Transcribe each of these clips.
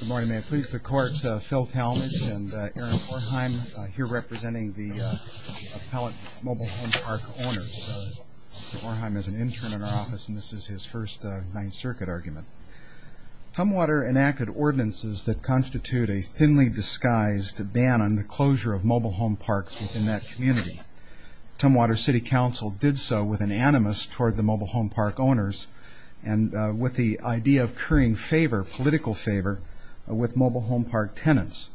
Good morning, may it please the Court, Phil Talmadge and Aaron Orheim here representing the appellate mobile home park owners. Mr. Orheim is an intern in our office and this is his first Ninth Circuit argument. Tumwater enacted ordinances that constitute a thinly disguised ban on the closure of mobile home parks within that community. Tumwater City Council did so with an animus toward the mobile home park owners and with the idea of currying favor, political favor, with mobile home park tenants.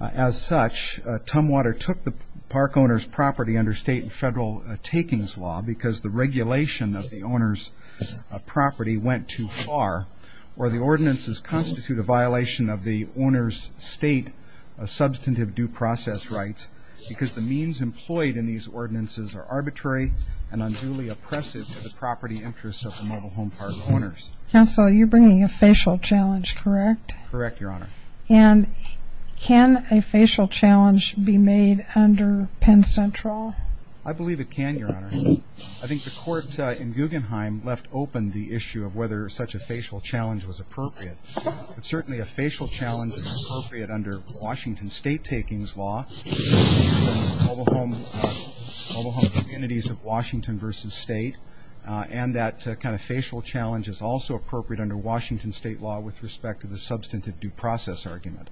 As such, Tumwater took the park owner's property under state and federal takings law because the regulation of the owner's property went too far or the ordinances constitute a violation of the owner's state substantive due process rights because the means employed in these ordinances are arbitrary and unduly oppressive to the property interests of the mobile home park owners. Counsel, you're bringing a facial challenge, correct? Correct, Your Honor. And can a facial challenge be made under Penn Central? I believe it can, Your Honor. I think the court in Guggenheim left open the issue of whether such a facial challenge was appropriate. Certainly a facial challenge is appropriate under Washington state takings law, mobile home communities of Washington versus state, and that kind of facial challenge is also appropriate under Washington state law with respect to the substantive due process argument.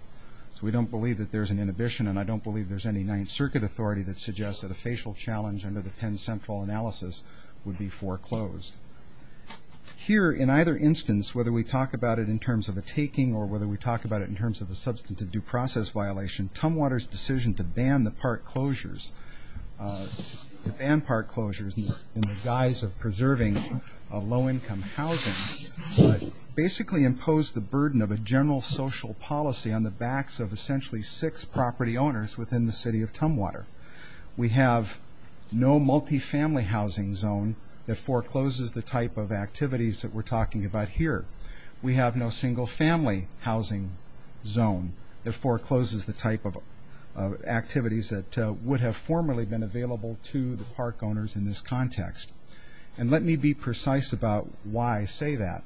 So we don't believe that there's an inhibition, and I don't believe there's any Ninth Circuit authority that suggests that a facial challenge under the Penn Central analysis would be foreclosed. Here, in either instance, whether we talk about it in terms of a taking or whether we talk about it in terms of a substantive due process violation, Tumwater's decision to ban the park closures in the guise of preserving low-income housing basically imposed the burden of a general social policy on the backs of essentially six property owners within the city of Tumwater. We have no multi-family housing zone that forecloses the type of activities that we're talking about here. We have no single-family housing zone that forecloses the type of activities that would have formerly been available to the park owners in this context. And let me be precise about why I say that.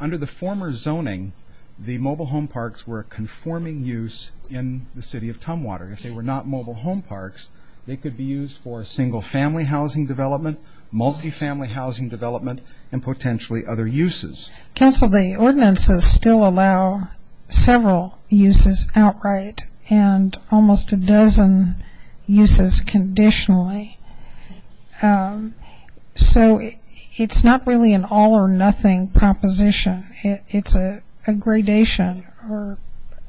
Under the former zoning, the mobile home parks were a conforming use in the city of Tumwater. If they were not mobile home parks, they could be used for single-family housing development, multi-family housing development, and potentially other uses. Counsel, the ordinances still allow several uses outright and almost a dozen uses conditionally. So it's not really an all-or-nothing proposition. It's a gradation or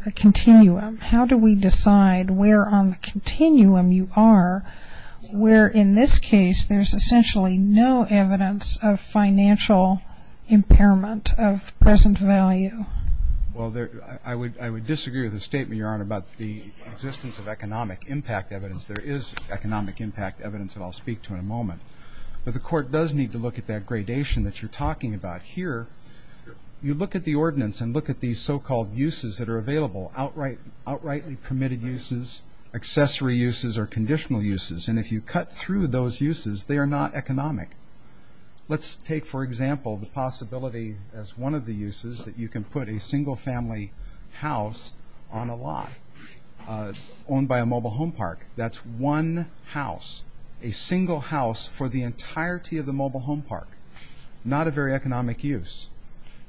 a continuum. How do we decide where on the continuum you are, where in this case there's essentially no evidence of financial impairment of present value? Well, I would disagree with the statement, Your Honor, about the existence of economic impact evidence. There is economic impact evidence that I'll speak to in a moment. But the court does need to look at that gradation that you're talking about here. You look at the ordinance and look at these so-called uses that are available outrightly permitted uses, accessory uses, or conditional uses. And if you cut through those uses, they are not economic. Let's take, for example, the possibility as one of the uses that you can put a single-family house on a lot owned by a mobile home park. That's one house, a single house for the entirety of the mobile home park. Not a very economic use.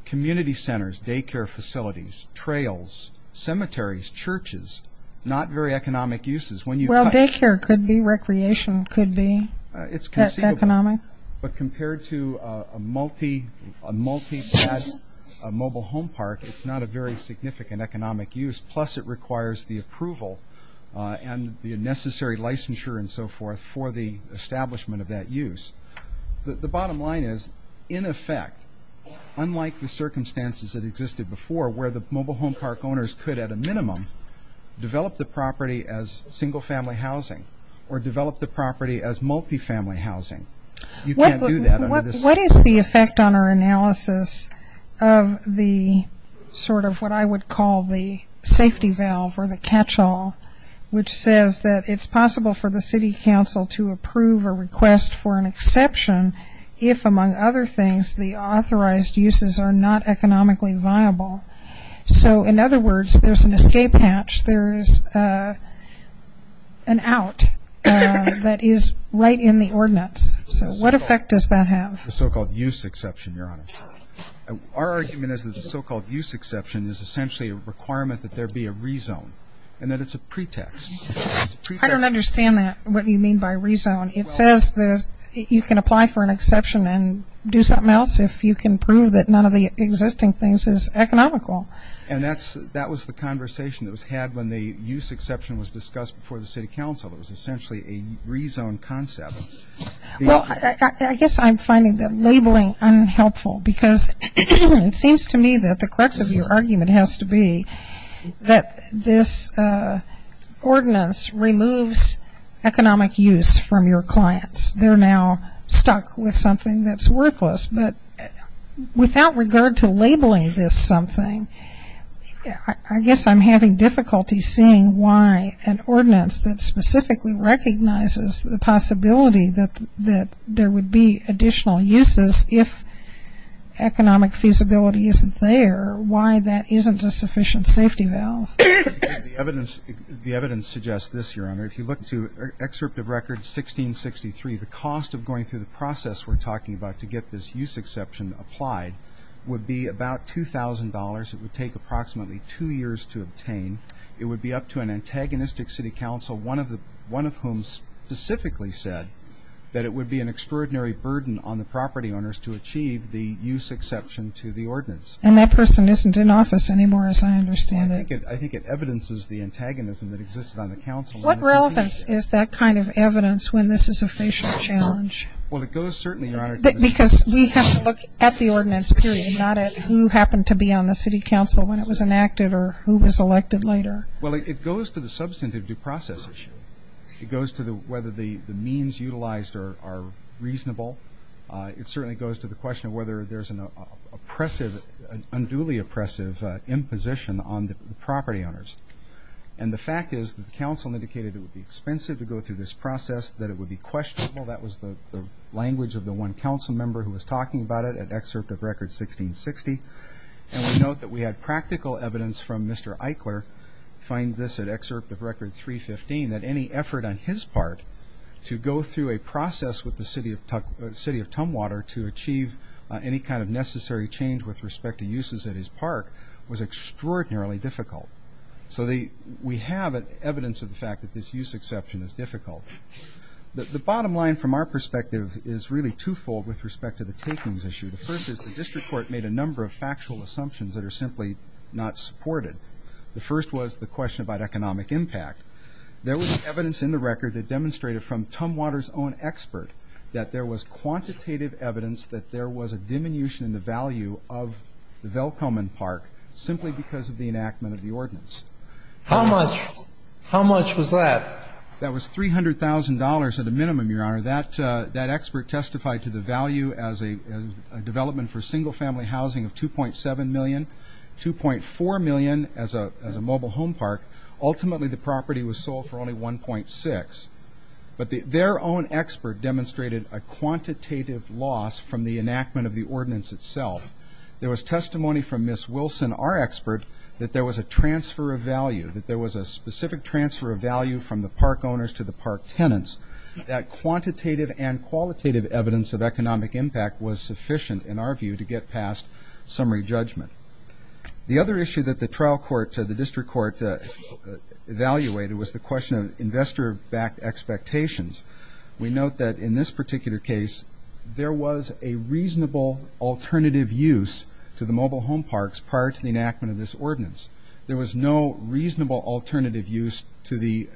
Community centers, daycare facilities, trails, cemeteries, churches, not very economic uses. Well, daycare could be, recreation could be that economic. It's conceivable. But compared to a multi-pad mobile home park, it's not a very significant economic use. Plus it requires the approval and the necessary licensure and so forth for the establishment of that use. The bottom line is, in effect, unlike the circumstances that existed before where the mobile home park owners could, at a minimum, develop the property as single-family housing or develop the property as multi-family housing, you can't do that. What is the effect on our analysis of the sort of what I would call the safety valve or the catch-all, which says that it's possible for the city council to approve a request for an exception if, among other things, the authorized uses are not economically viable. So, in other words, there's an escape hatch. There is an out that is right in the ordinance. So what effect does that have? The so-called use exception, Your Honor. Our argument is that the so-called use exception is essentially a requirement that there be a rezone and that it's a pretext. I don't understand that, what you mean by rezone. It says you can apply for an exception and do something else if you can prove that none of the existing things is economical. And that was the conversation that was had when the use exception was discussed before the city council. It was essentially a rezone concept. Well, I guess I'm finding that labeling unhelpful because it seems to me that the crux of your argument has to be that this ordinance removes economic use from your clients. They're now stuck with something that's worthless. But without regard to labeling this something, I guess I'm having difficulty seeing why an ordinance that specifically recognizes the possibility that there would be I'm not aware why that isn't a sufficient safety valve. The evidence suggests this, Your Honor. If you look to excerpt of record 1663, the cost of going through the process we're talking about to get this use exception applied would be about $2,000. It would take approximately two years to obtain. It would be up to an antagonistic city council, one of whom specifically said that it would be an extraordinary burden on the property owners to achieve the use exception to the ordinance. And that person isn't in office anymore as I understand it. I think it evidences the antagonism that existed on the council. What relevance is that kind of evidence when this is a facial challenge? Well, it goes certainly, Your Honor. Because we have to look at the ordinance period, not at who happened to be on the city council when it was enacted or who was elected later. Well, it goes to the substantive due process issue. It goes to whether the means utilized are reasonable. It certainly goes to the question of whether there's an oppressive, unduly oppressive imposition on the property owners. And the fact is that the council indicated it would be expensive to go through this process, that it would be questionable. That was the language of the one council member who was talking about it at excerpt of record 1660. And we note that we had practical evidence from Mr. Eichler, find this at excerpt of record 315, that any effort on his part to go through a process with the city of Tumwater to achieve any kind of necessary change with respect to uses at his park was extraordinarily difficult. So we have evidence of the fact that this use exception is difficult. The bottom line from our perspective is really twofold with respect to the takings issue. The first is the district court made a number of factual assumptions that are simply not supported. The first was the question about economic impact. There was evidence in the record that demonstrated from Tumwater's own expert that there was quantitative evidence that there was a diminution in the value of the Velcomen Park simply because of the enactment of the ordinance. How much was that? That was $300,000 at a minimum, Your Honor. That expert testified to the value as a development for single-family housing of $2.7 million, $2.4 million as a mobile home park. Ultimately, the property was sold for only $1.6. But their own expert demonstrated a quantitative loss from the enactment of the ordinance itself. There was testimony from Ms. Wilson, our expert, that there was a transfer of value, that there was a specific transfer of value from the park owners to the park tenants, that quantitative and qualitative evidence of economic impact was sufficient, in our view, to get past summary judgment. The other issue that the trial court, the district court, evaluated was the question of investor-backed expectations. We note that in this particular case, there was a reasonable alternative use to the mobile home parks prior to the enactment of this ordinance. There was no reasonable alternative use to the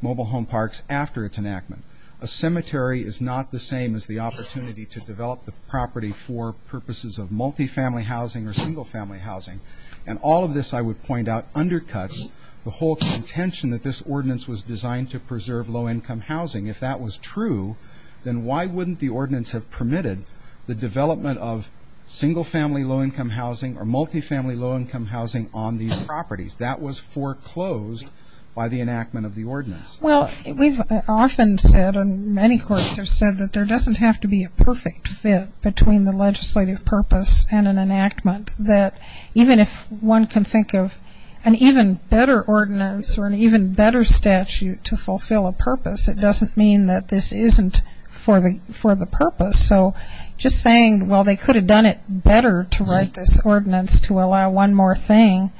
mobile home parks after its enactment. A cemetery is not the same as the opportunity to develop the property for purposes of multifamily housing or single-family housing. And all of this, I would point out, undercuts the whole contention that this ordinance was designed to preserve low-income housing. If that was true, then why wouldn't the ordinance have permitted the development of single-family low-income housing or multifamily low-income housing on these properties? That was foreclosed by the enactment of the ordinance. Well, we've often said, and many courts have said, that there doesn't have to be a perfect fit between the legislative purpose and an enactment, that even if one can think of an even better ordinance or an even better statute to fulfill a purpose, it doesn't mean that this isn't for the purpose. So just saying, well, they could have done it better to write this ordinance to allow one more thing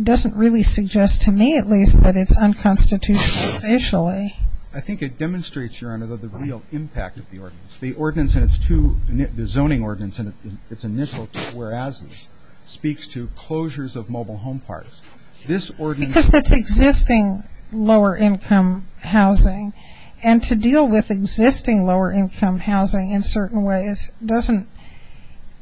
doesn't really suggest to me, at least, that it's unconstitutional officially. I think it demonstrates, Your Honor, the real impact of the ordinance. The ordinance and its two – the zoning ordinance and its initial two whereases speaks to closures of mobile home parts. This ordinance – Because that's existing lower-income housing. And to deal with existing lower-income housing in certain ways doesn't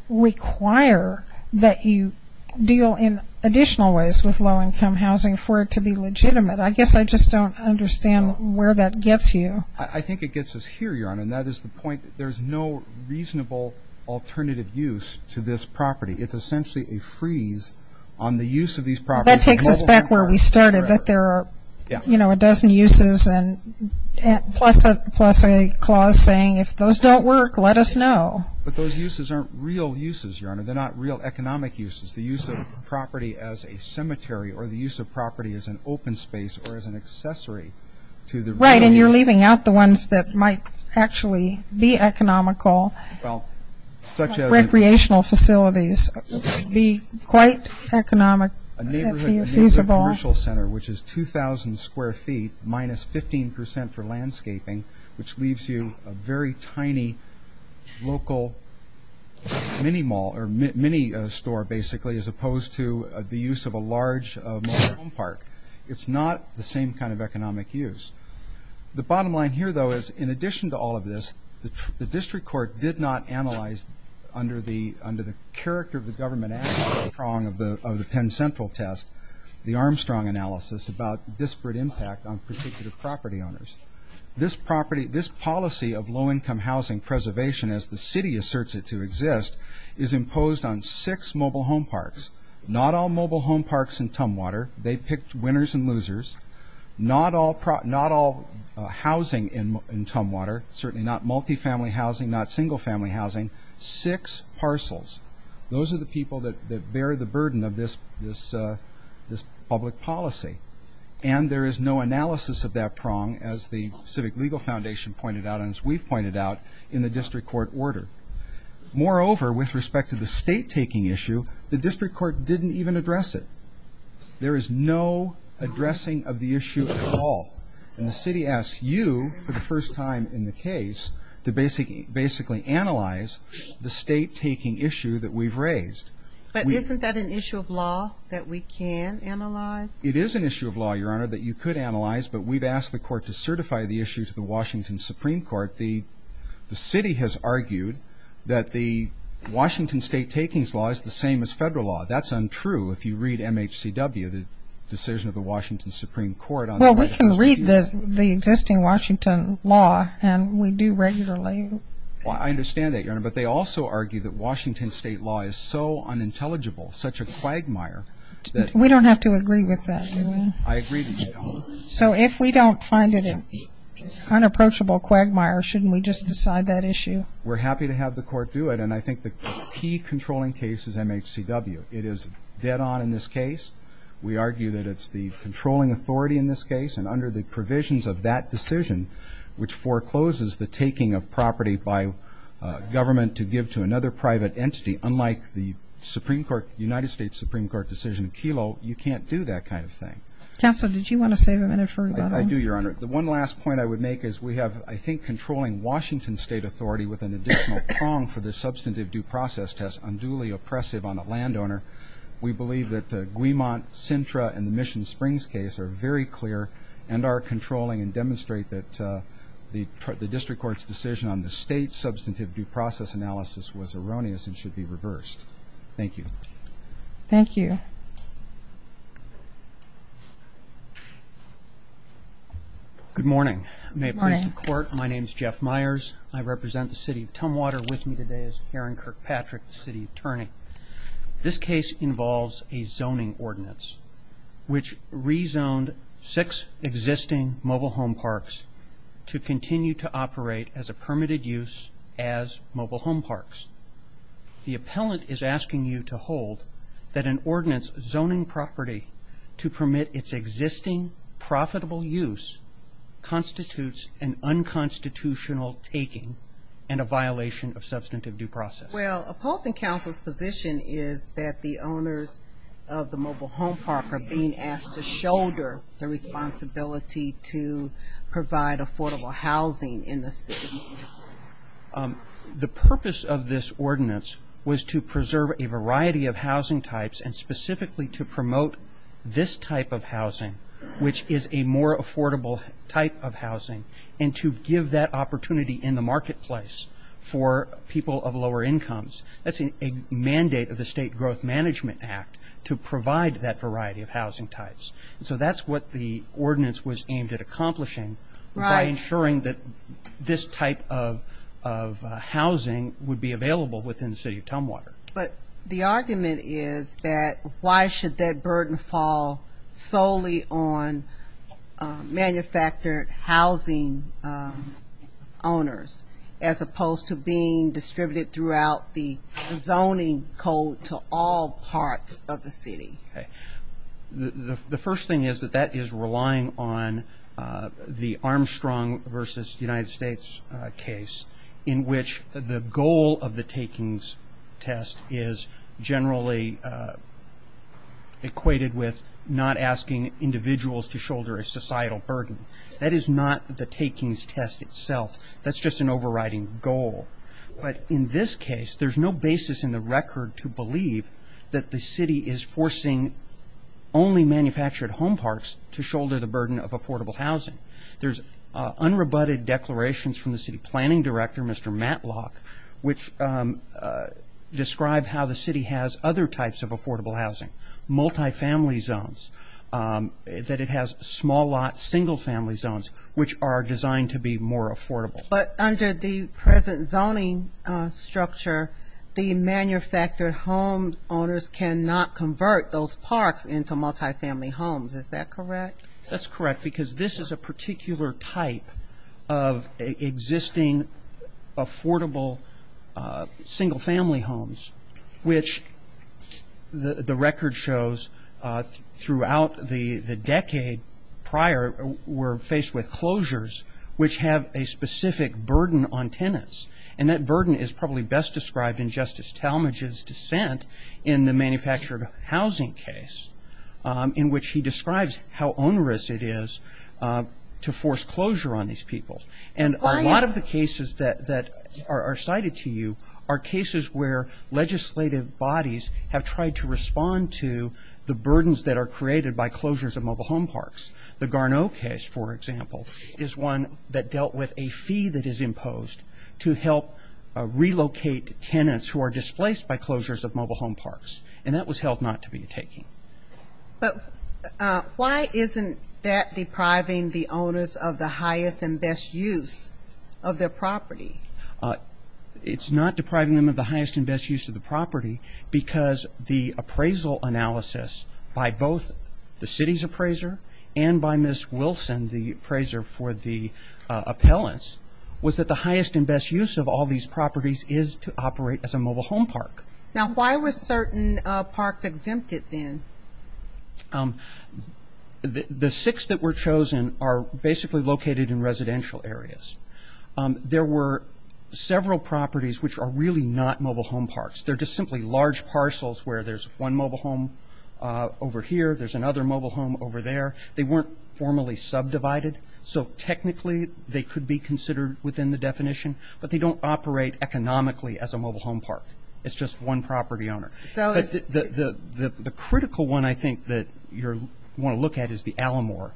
require that you deal in additional ways with low-income housing for it to be legitimate. I guess I just don't understand where that gets you. I think it gets us here, Your Honor, and that is the point that there's no reasonable alternative use to this property. It's essentially a freeze on the use of these properties. That takes us back where we started, that there are, you know, a dozen uses plus a clause saying, if those don't work, let us know. But those uses aren't real uses, Your Honor. They're not real economic uses. The use of a property as a cemetery or the use of property as an open space or as an accessory to the – Right, and you're leaving out the ones that might actually be economical. Well, such as – Recreational facilities would be quite economic if feasible. A neighborhood commercial center, which is 2,000 square feet minus 15% for landscaping, which leaves you a very tiny local mini mall or mini store, basically, as opposed to the use of a large mall home park. It's not the same kind of economic use. The bottom line here, though, is in addition to all of this, the district court did not analyze under the character of the government of the Penn Central test, the Armstrong analysis, about disparate impact on particular property owners. This policy of low-income housing preservation, as the city asserts it to exist, is imposed on six mobile home parks. Not all mobile home parks in Tumwater. They picked winners and losers. Not all housing in Tumwater, certainly not multifamily housing, not single-family housing. Six parcels. Those are the people that bear the burden of this public policy. And there is no analysis of that prong, as the Civic Legal Foundation pointed out and as we've pointed out in the district court order. Moreover, with respect to the state-taking issue, the district court didn't even address it. There is no addressing of the issue at all. And the city asks you, for the first time in the case, to basically analyze the state-taking issue that we've raised. But isn't that an issue of law that we can analyze? It is an issue of law, Your Honor, that you could analyze, but we've asked the court to certify the issue to the Washington Supreme Court. The city has argued that the Washington state-taking law is the same as federal law. That's untrue if you read MHCW, the decision of the Washington Supreme Court. Well, we can read the existing Washington law, and we do regularly. I understand that, Your Honor. But they also argue that Washington state law is so unintelligible, such a quagmire. We don't have to agree with that, do we? I agree with you, Your Honor. So if we don't find it an unapproachable quagmire, shouldn't we just decide that issue? We're happy to have the court do it, and I think the key controlling case is MHCW. It is dead on in this case. We argue that it's the controlling authority in this case, and under the provisions of that decision, which forecloses the taking of property by government to give to another private entity, unlike the United States Supreme Court decision in Kelo, you can't do that kind of thing. Counsel, did you want to save a minute for rebuttal? I do, Your Honor. The one last point I would make is we have, I think, controlling Washington state authority with an additional prong for the substantive due process test, unduly oppressive on a landowner. We believe that Guimont, Sintra, and the Mission Springs case are very clear and are controlling and demonstrate that the district court's decision on the state substantive due process analysis was erroneous and should be reversed. Thank you. Thank you. Good morning. Good morning. My name is Jeff Myers. I represent the city of Tumwater. With me today is Karen Kirkpatrick, the city attorney. This case involves a zoning ordinance, which rezoned six existing mobile home parks to continue to operate as a permitted use as mobile home parks. The appellant is asking you to hold that an ordinance zoning property to permit its existing profitable use constitutes an unconstitutional taking and a violation of substantive due process. Well, opposing counsel's position is that the owners of the mobile home park are being asked to shoulder the responsibility to provide affordable housing in the city. The purpose of this ordinance was to preserve a variety of housing types and specifically to promote this type of housing, which is a more affordable type of housing, and to give that opportunity in the marketplace for people of lower incomes. That's a mandate of the State Growth Management Act to provide that variety of housing types. So that's what the ordinance was aimed at accomplishing by ensuring that this type of housing would be available within the city of Tumwater. But the argument is that why should that burden fall solely on manufactured housing owners as opposed to being distributed throughout the zoning code to all parts of the city? The first thing is that that is relying on the Armstrong versus United States case in which the goal of the takings test is generally equated with not asking individuals to shoulder a societal burden. That is not the takings test itself. That's just an overriding goal. But in this case, there's no basis in the record to believe that the city is forcing only manufactured home parks to shoulder the burden of affordable housing. There's unrebutted declarations from the city planning director, Mr. Matlock, which describe how the city has other types of affordable housing, multifamily zones, that it has small lot, single family zones, which are designed to be more affordable. But under the present zoning structure, the manufactured home owners cannot convert those parks into multifamily homes. Is that correct? That's correct, because this is a particular type of existing affordable single family homes, which the record shows throughout the decade prior were faced with closures which have a specific burden on tenants. And that burden is probably best described in Justice Talmadge's dissent in the manufactured housing case, in which he describes how onerous it is to force closure on these people. And a lot of the cases that are cited to you are cases where legislative bodies have tried to respond to the burdens that are created by closures of mobile home parks. The Garneau case, for example, is one that dealt with a fee that is imposed to help relocate tenants who are displaced by closures of mobile home parks. And that was held not to be a taking. But why isn't that depriving the owners of the highest and best use of their property? It's not depriving them of the highest and best use of the property, because the appraisal analysis by both the city's appraiser and by Ms. Wilson, the appraiser for the properties is to operate as a mobile home park. The six that were chosen are basically located in residential areas. There were several properties which are really not mobile home parks. They're just simply large parcels where there's one mobile home over here, there's another mobile home over there. They weren't formally subdivided. So technically they could be considered within the state economically as a mobile home park. It's just one property owner. The critical one, I think, that you want to look at is the Alamore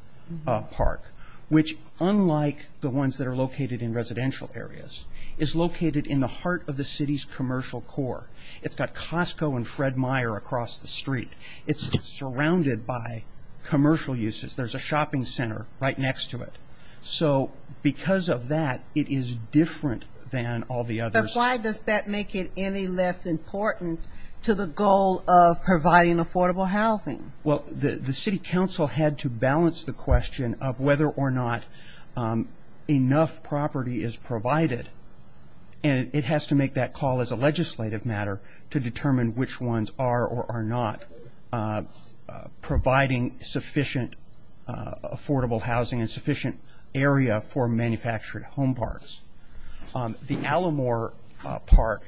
Park, which unlike the ones that are located in residential areas, is located in the heart of the city's commercial core. It's got Costco and Fred Meyer across the street. It's surrounded by commercial uses. There's a shopping center right next to it. So because of that, it is different than all the others. But why does that make it any less important to the goal of providing affordable housing? Well, the city council had to balance the question of whether or not enough property is provided, and it has to make that call as a legislative matter to determine which ones are or are not providing sufficient affordable housing and sufficient area for manufactured home parks. The Alamore Park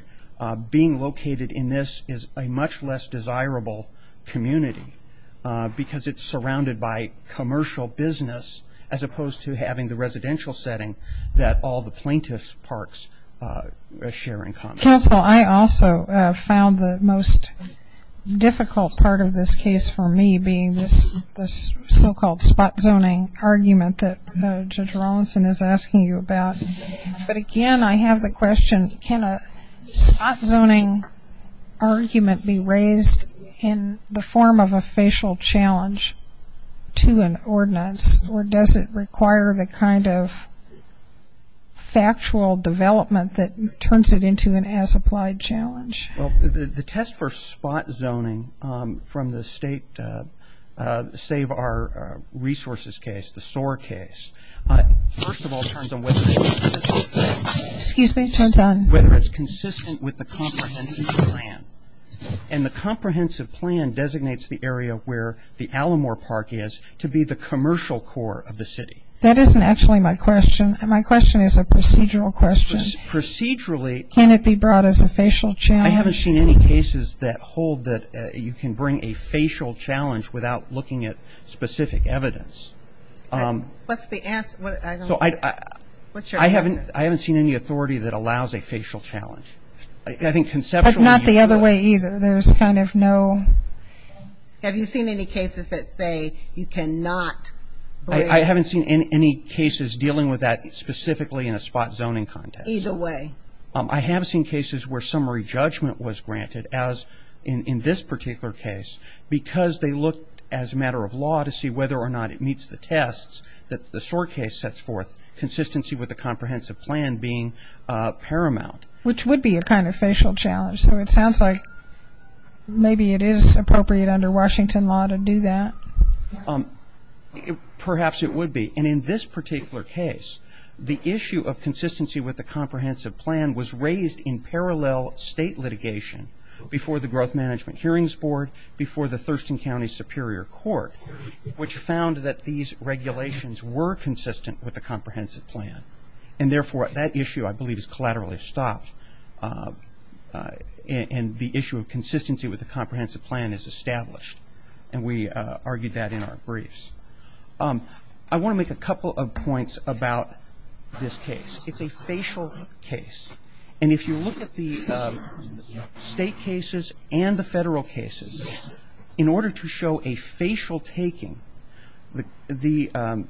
being located in this is a much less desirable community because it's surrounded by commercial business as opposed to having the residential setting that all the plaintiff's parks share in common. Counsel, I also found the most difficult part of this case for me being this so-called spot zoning argument that Judge Rawlinson is asking you about. But again, I have the question, can a spot zoning argument be raised in the form of a facial challenge to an ordinance, or does it require the kind of factual development that turns it into an as-applied challenge? Well, the test for spot zoning from the state Save Our Resources case, the SOAR case, first of all turns on whether it's consistent with the comprehensive plan. And the comprehensive plan designates the area where the Alamore Park is to be the commercial core of the city. That isn't actually my question. My question is a procedural question. Procedurally. Can it be brought as a facial challenge? I haven't seen any cases that hold that you can bring a facial challenge without looking at specific evidence. What's the answer? I haven't seen any authority that allows a facial challenge. That's not the other way either. Have you seen any cases that say you cannot? I haven't seen any cases dealing with that specifically in a spot zoning context. I have seen cases where summary judgment was granted, as in this particular case, because they looked as a matter of law to see whether or not it meets the tests that the SOAR case sets forth, consistency with the comprehensive plan being paramount. Which would be a kind of facial challenge. So it sounds like maybe it is appropriate under Washington law to do that. Perhaps it would be. And in this particular case, the issue of consistency with the comprehensive plan was raised in parallel state litigation before the Growth Management Hearings Board, before the Thurston County Superior Court, which found that these regulations were consistent with the comprehensive plan. And therefore, that issue, I believe, is collaterally stopped. And the issue of consistency with the comprehensive plan is established. And we argued that in our briefs. I want to make a couple of points about this case. It's a facial case. And if you look at the State cases and the Federal cases, in order to show a facial taking, the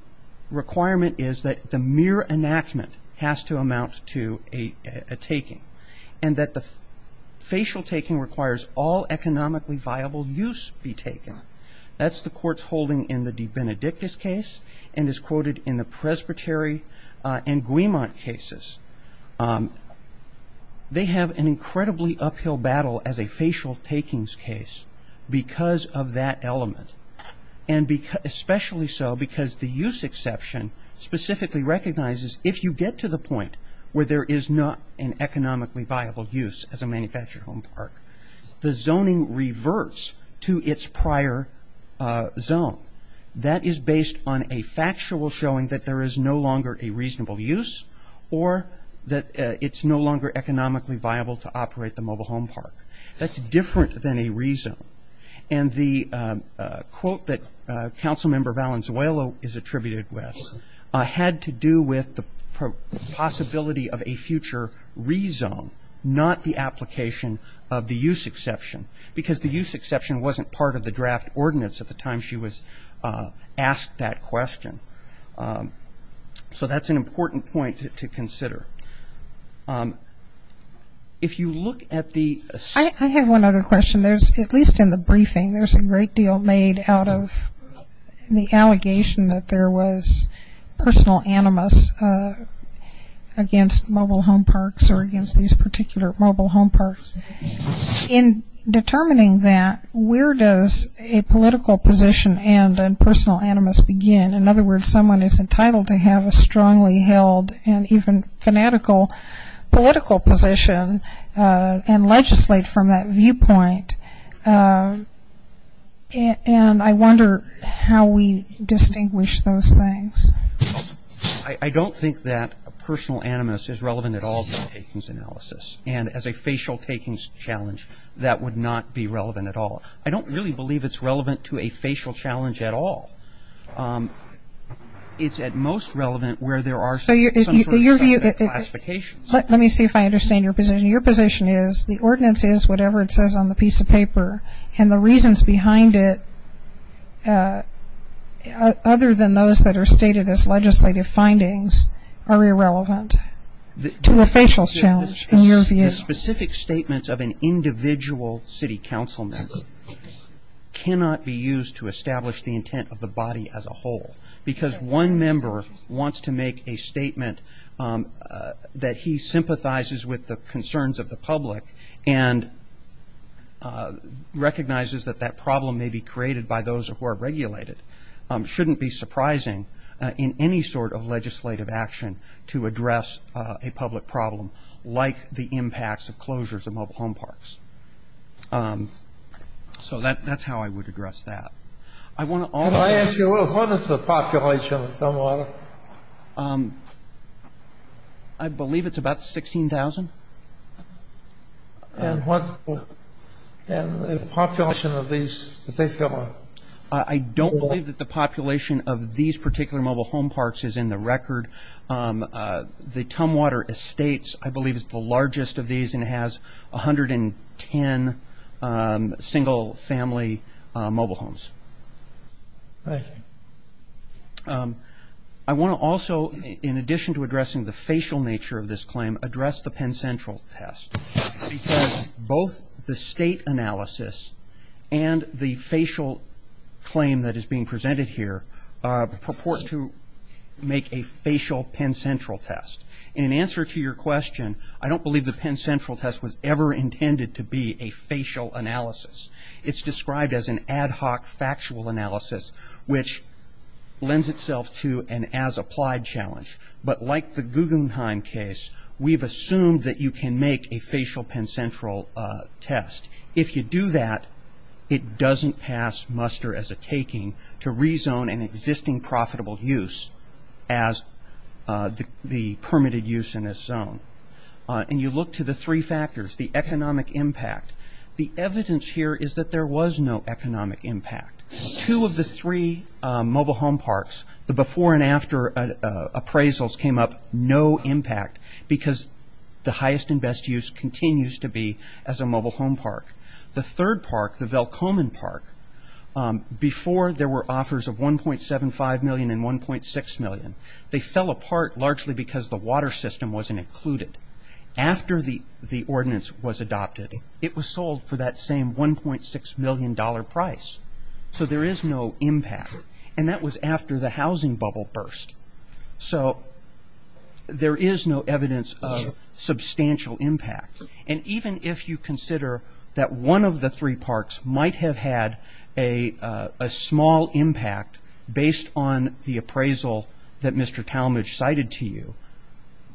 requirement is that the mere enactment has to amount to a taking. And that the facial taking requires all economically viable use be taken. That's the court's holding in the DeBenedictus case and is quoted in the Presbytery and Guimont cases. They have an incredibly uphill battle as a facial takings case because of that element. Especially so because the use exception specifically recognizes if you get to the point where there is not an economically viable use as a manufactured home park, the zoning reverts to its prior zone. That is based on a factual showing that there is no longer a reasonable use or that it's no longer economically viable to operate the mobile home park. That's different than a rezone. And the quote that Council Member Valenzuela is attributed with had to do with the possibility of a future rezone, not the application of the use exception. Because the use exception wasn't part of the draft ordinance at the time she was asked that question. So that's an important point to consider. If you look at the – I have one other question. At least in the briefing, there's a great deal made out of the allegation that there was personal animus against mobile home parks or against these particular mobile home parks. In determining that, where does a political position and personal animus begin? In other words, someone is entitled to have a strongly held and even fanatical political position and legislate from that viewpoint. And I wonder how we distinguish those things. I don't think that personal animus is relevant at all to takings analysis. And as a facial takings challenge, that would not be relevant at all. I don't really believe it's relevant to a facial challenge at all. It's at most relevant where there are some sort of classification. Let me see if I understand your position. Your position is the ordinance is whatever it says on the piece of paper. And the reasons behind it, other than those that are stated as legislative findings, are irrelevant to a facial challenge in your view. The specific statements of an individual city council member cannot be used to establish the intent of the body as a whole. Because one member wants to make a statement that he sympathizes with the concerns of the public and recognizes that that problem may be created by those who are regulated, shouldn't be surprising in any sort of legislative action to address a public problem like the impacts of closures of mobile home parks. So that's how I would address that. Can I ask you, what is the population of Tumwater? I believe it's about 16,000. And what's the population of these particular? I don't believe that the population of these particular mobile home parks is in the record. The Tumwater Estates, I believe, is the largest of these and has 110 single-family mobile homes. I want to also, in addition to addressing the facial nature of this claim, address the Penn Central test. Because both the state analysis and the facial claim that is being presented here purport to make a facial Penn Central test. In answer to your question, I don't believe the Penn Central test was ever intended to be a facial analysis. It's described as an ad hoc factual analysis, which lends itself to an as-applied challenge. But like the Guggenheim case, we've assumed that you can make a facial Penn Central test. If you do that, it doesn't pass muster as a taking to rezone an existing profitable use as the permitted use in this zone. And you look to the three factors, the economic impact. The evidence here is that there was no economic impact. Two of the three mobile home parks, the before and after appraisals came up no impact because the highest and best use continues to be as a mobile home park. The third park, the Valcomen Park, before there were offers of $1.75 million and $1.6 million, they fell apart largely because the water system wasn't included. After the ordinance was adopted, it was sold for that same $1.6 million price. So there is no impact. And that was after the housing bubble burst. So there is no evidence of substantial impact. And even if you consider that one of the three parks might have had a small impact based on the appraisal that Mr. Talmadge cited to you,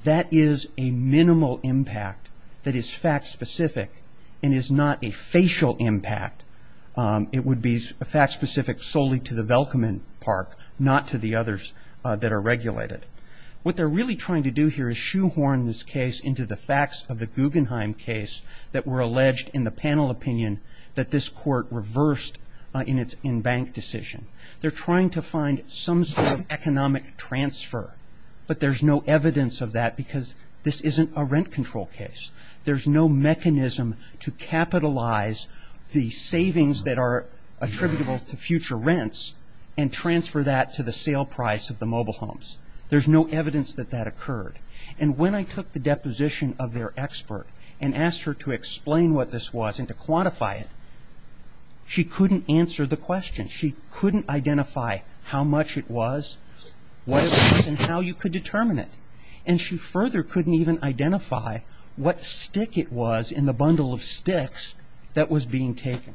that is a minimal impact that is fact-specific and is not a facial impact. It would be fact-specific solely to the Valcomen Park, not to the others that are regulated. What they're really trying to do here is shoehorn this case into the facts of the Guggenheim case that were alleged in the panel opinion that this court reversed in its in-bank decision. They're trying to find some sort of economic transfer, but there's no evidence of that because this isn't a rent control case. There's no mechanism to capitalize the savings that are attributable to future rents and transfer that to the sale price of the mobile homes. There's no evidence that that occurred. And when I took the deposition of their expert and asked her to explain what this was and to quantify it, she couldn't answer the question. She couldn't identify how much it was, what it was, and how you could determine it. And she further couldn't even identify what stick it was in the bundle of sticks that was being taken.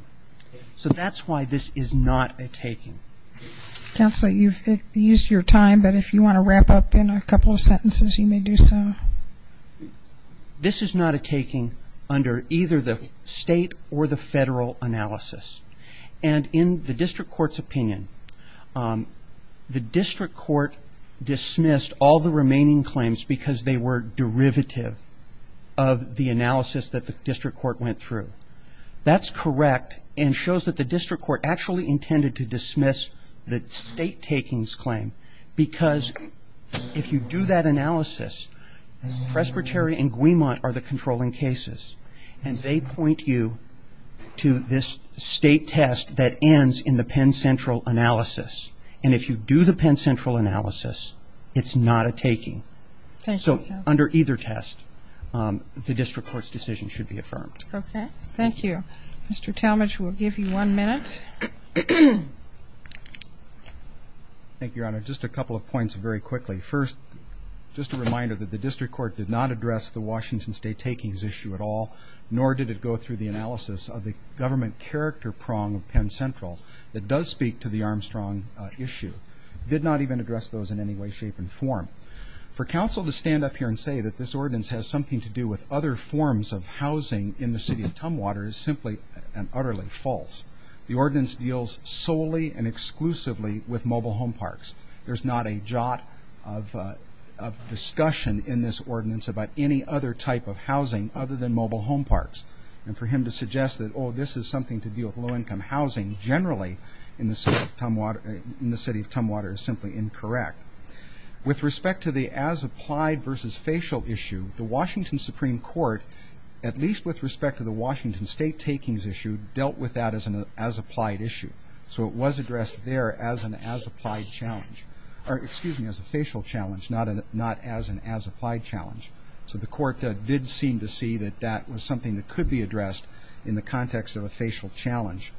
So that's why this is not a taking. Counsel, you've used your time, but if you want to wrap up in a couple of sentences, you may do so. This is not a taking under either the state or the federal analysis. And in the district court's opinion, the district court dismissed all the remaining claims because they were derivative of the analysis that the district court went through. That's correct and shows that the district court actually intended to dismiss the state taking's claim because if you do that analysis, Presbyterian and Guimont are the controlling cases, and they point you to this state test that ends in the Penn Central analysis. And if you do the Penn Central analysis, it's not a taking. So under either test, the district court's decision should be affirmed. Okay. Thank you. Mr. Talmadge, we'll give you one minute. Thank you, Your Honor. Just a couple of points very quickly. First, just a reminder that the district court did not address the Washington State takings issue at all, nor did it go through the analysis of the government character prong of Penn Central that does speak to the Armstrong issue. It did not even address those in any way, shape, and form. For counsel to stand up here and say that this ordinance has something to do with other forms of housing in the city of Tumwater is simply and utterly false. The ordinance deals solely and exclusively with mobile home parks. There's not a jot of discussion in this ordinance about any other type of housing other than mobile home parks. And for him to suggest that, oh, this is something to do with low-income housing generally in the city of Tumwater is simply incorrect. With respect to the as-applied versus facial issue, the Washington Supreme Court, at least with respect to the Washington State takings issue, dealt with that as an as-applied issue. So it was addressed there as a facial challenge, not as an as-applied challenge. So the court did seem to see that that was something that could be addressed in the context of a facial challenge.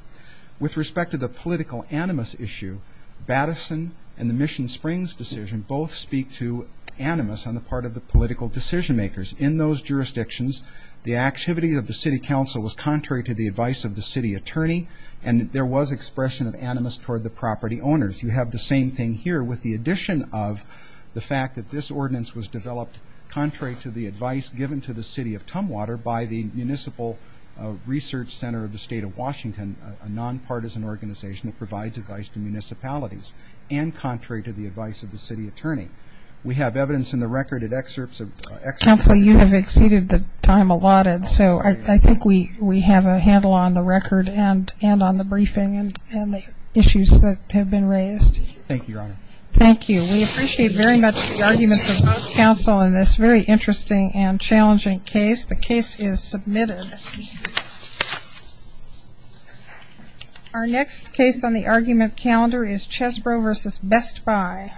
With respect to the political animus issue, Batterson and the Mission Springs decision both speak to animus on the part of the political decision-makers. In those jurisdictions, the activity of the city council was contrary to the advice of the city attorney, and there was expression of animus toward the property owners. You have the same thing here with the addition of the fact that this ordinance was developed contrary to the advice given to the city of Tumwater by the Municipal Research Center of the State of Washington, a nonpartisan organization that provides advice to municipalities, and contrary to the advice of the city attorney. We have evidence in the record and excerpts of the evidence. We have exceeded the time allotted, so I think we have a handle on the record and on the briefing and the issues that have been raised. Thank you, Your Honor. Thank you. We appreciate very much the arguments of both counsel in this very interesting and challenging case. The case is submitted. Our next case on the argument calendar is Chesbrough v. Best Buy.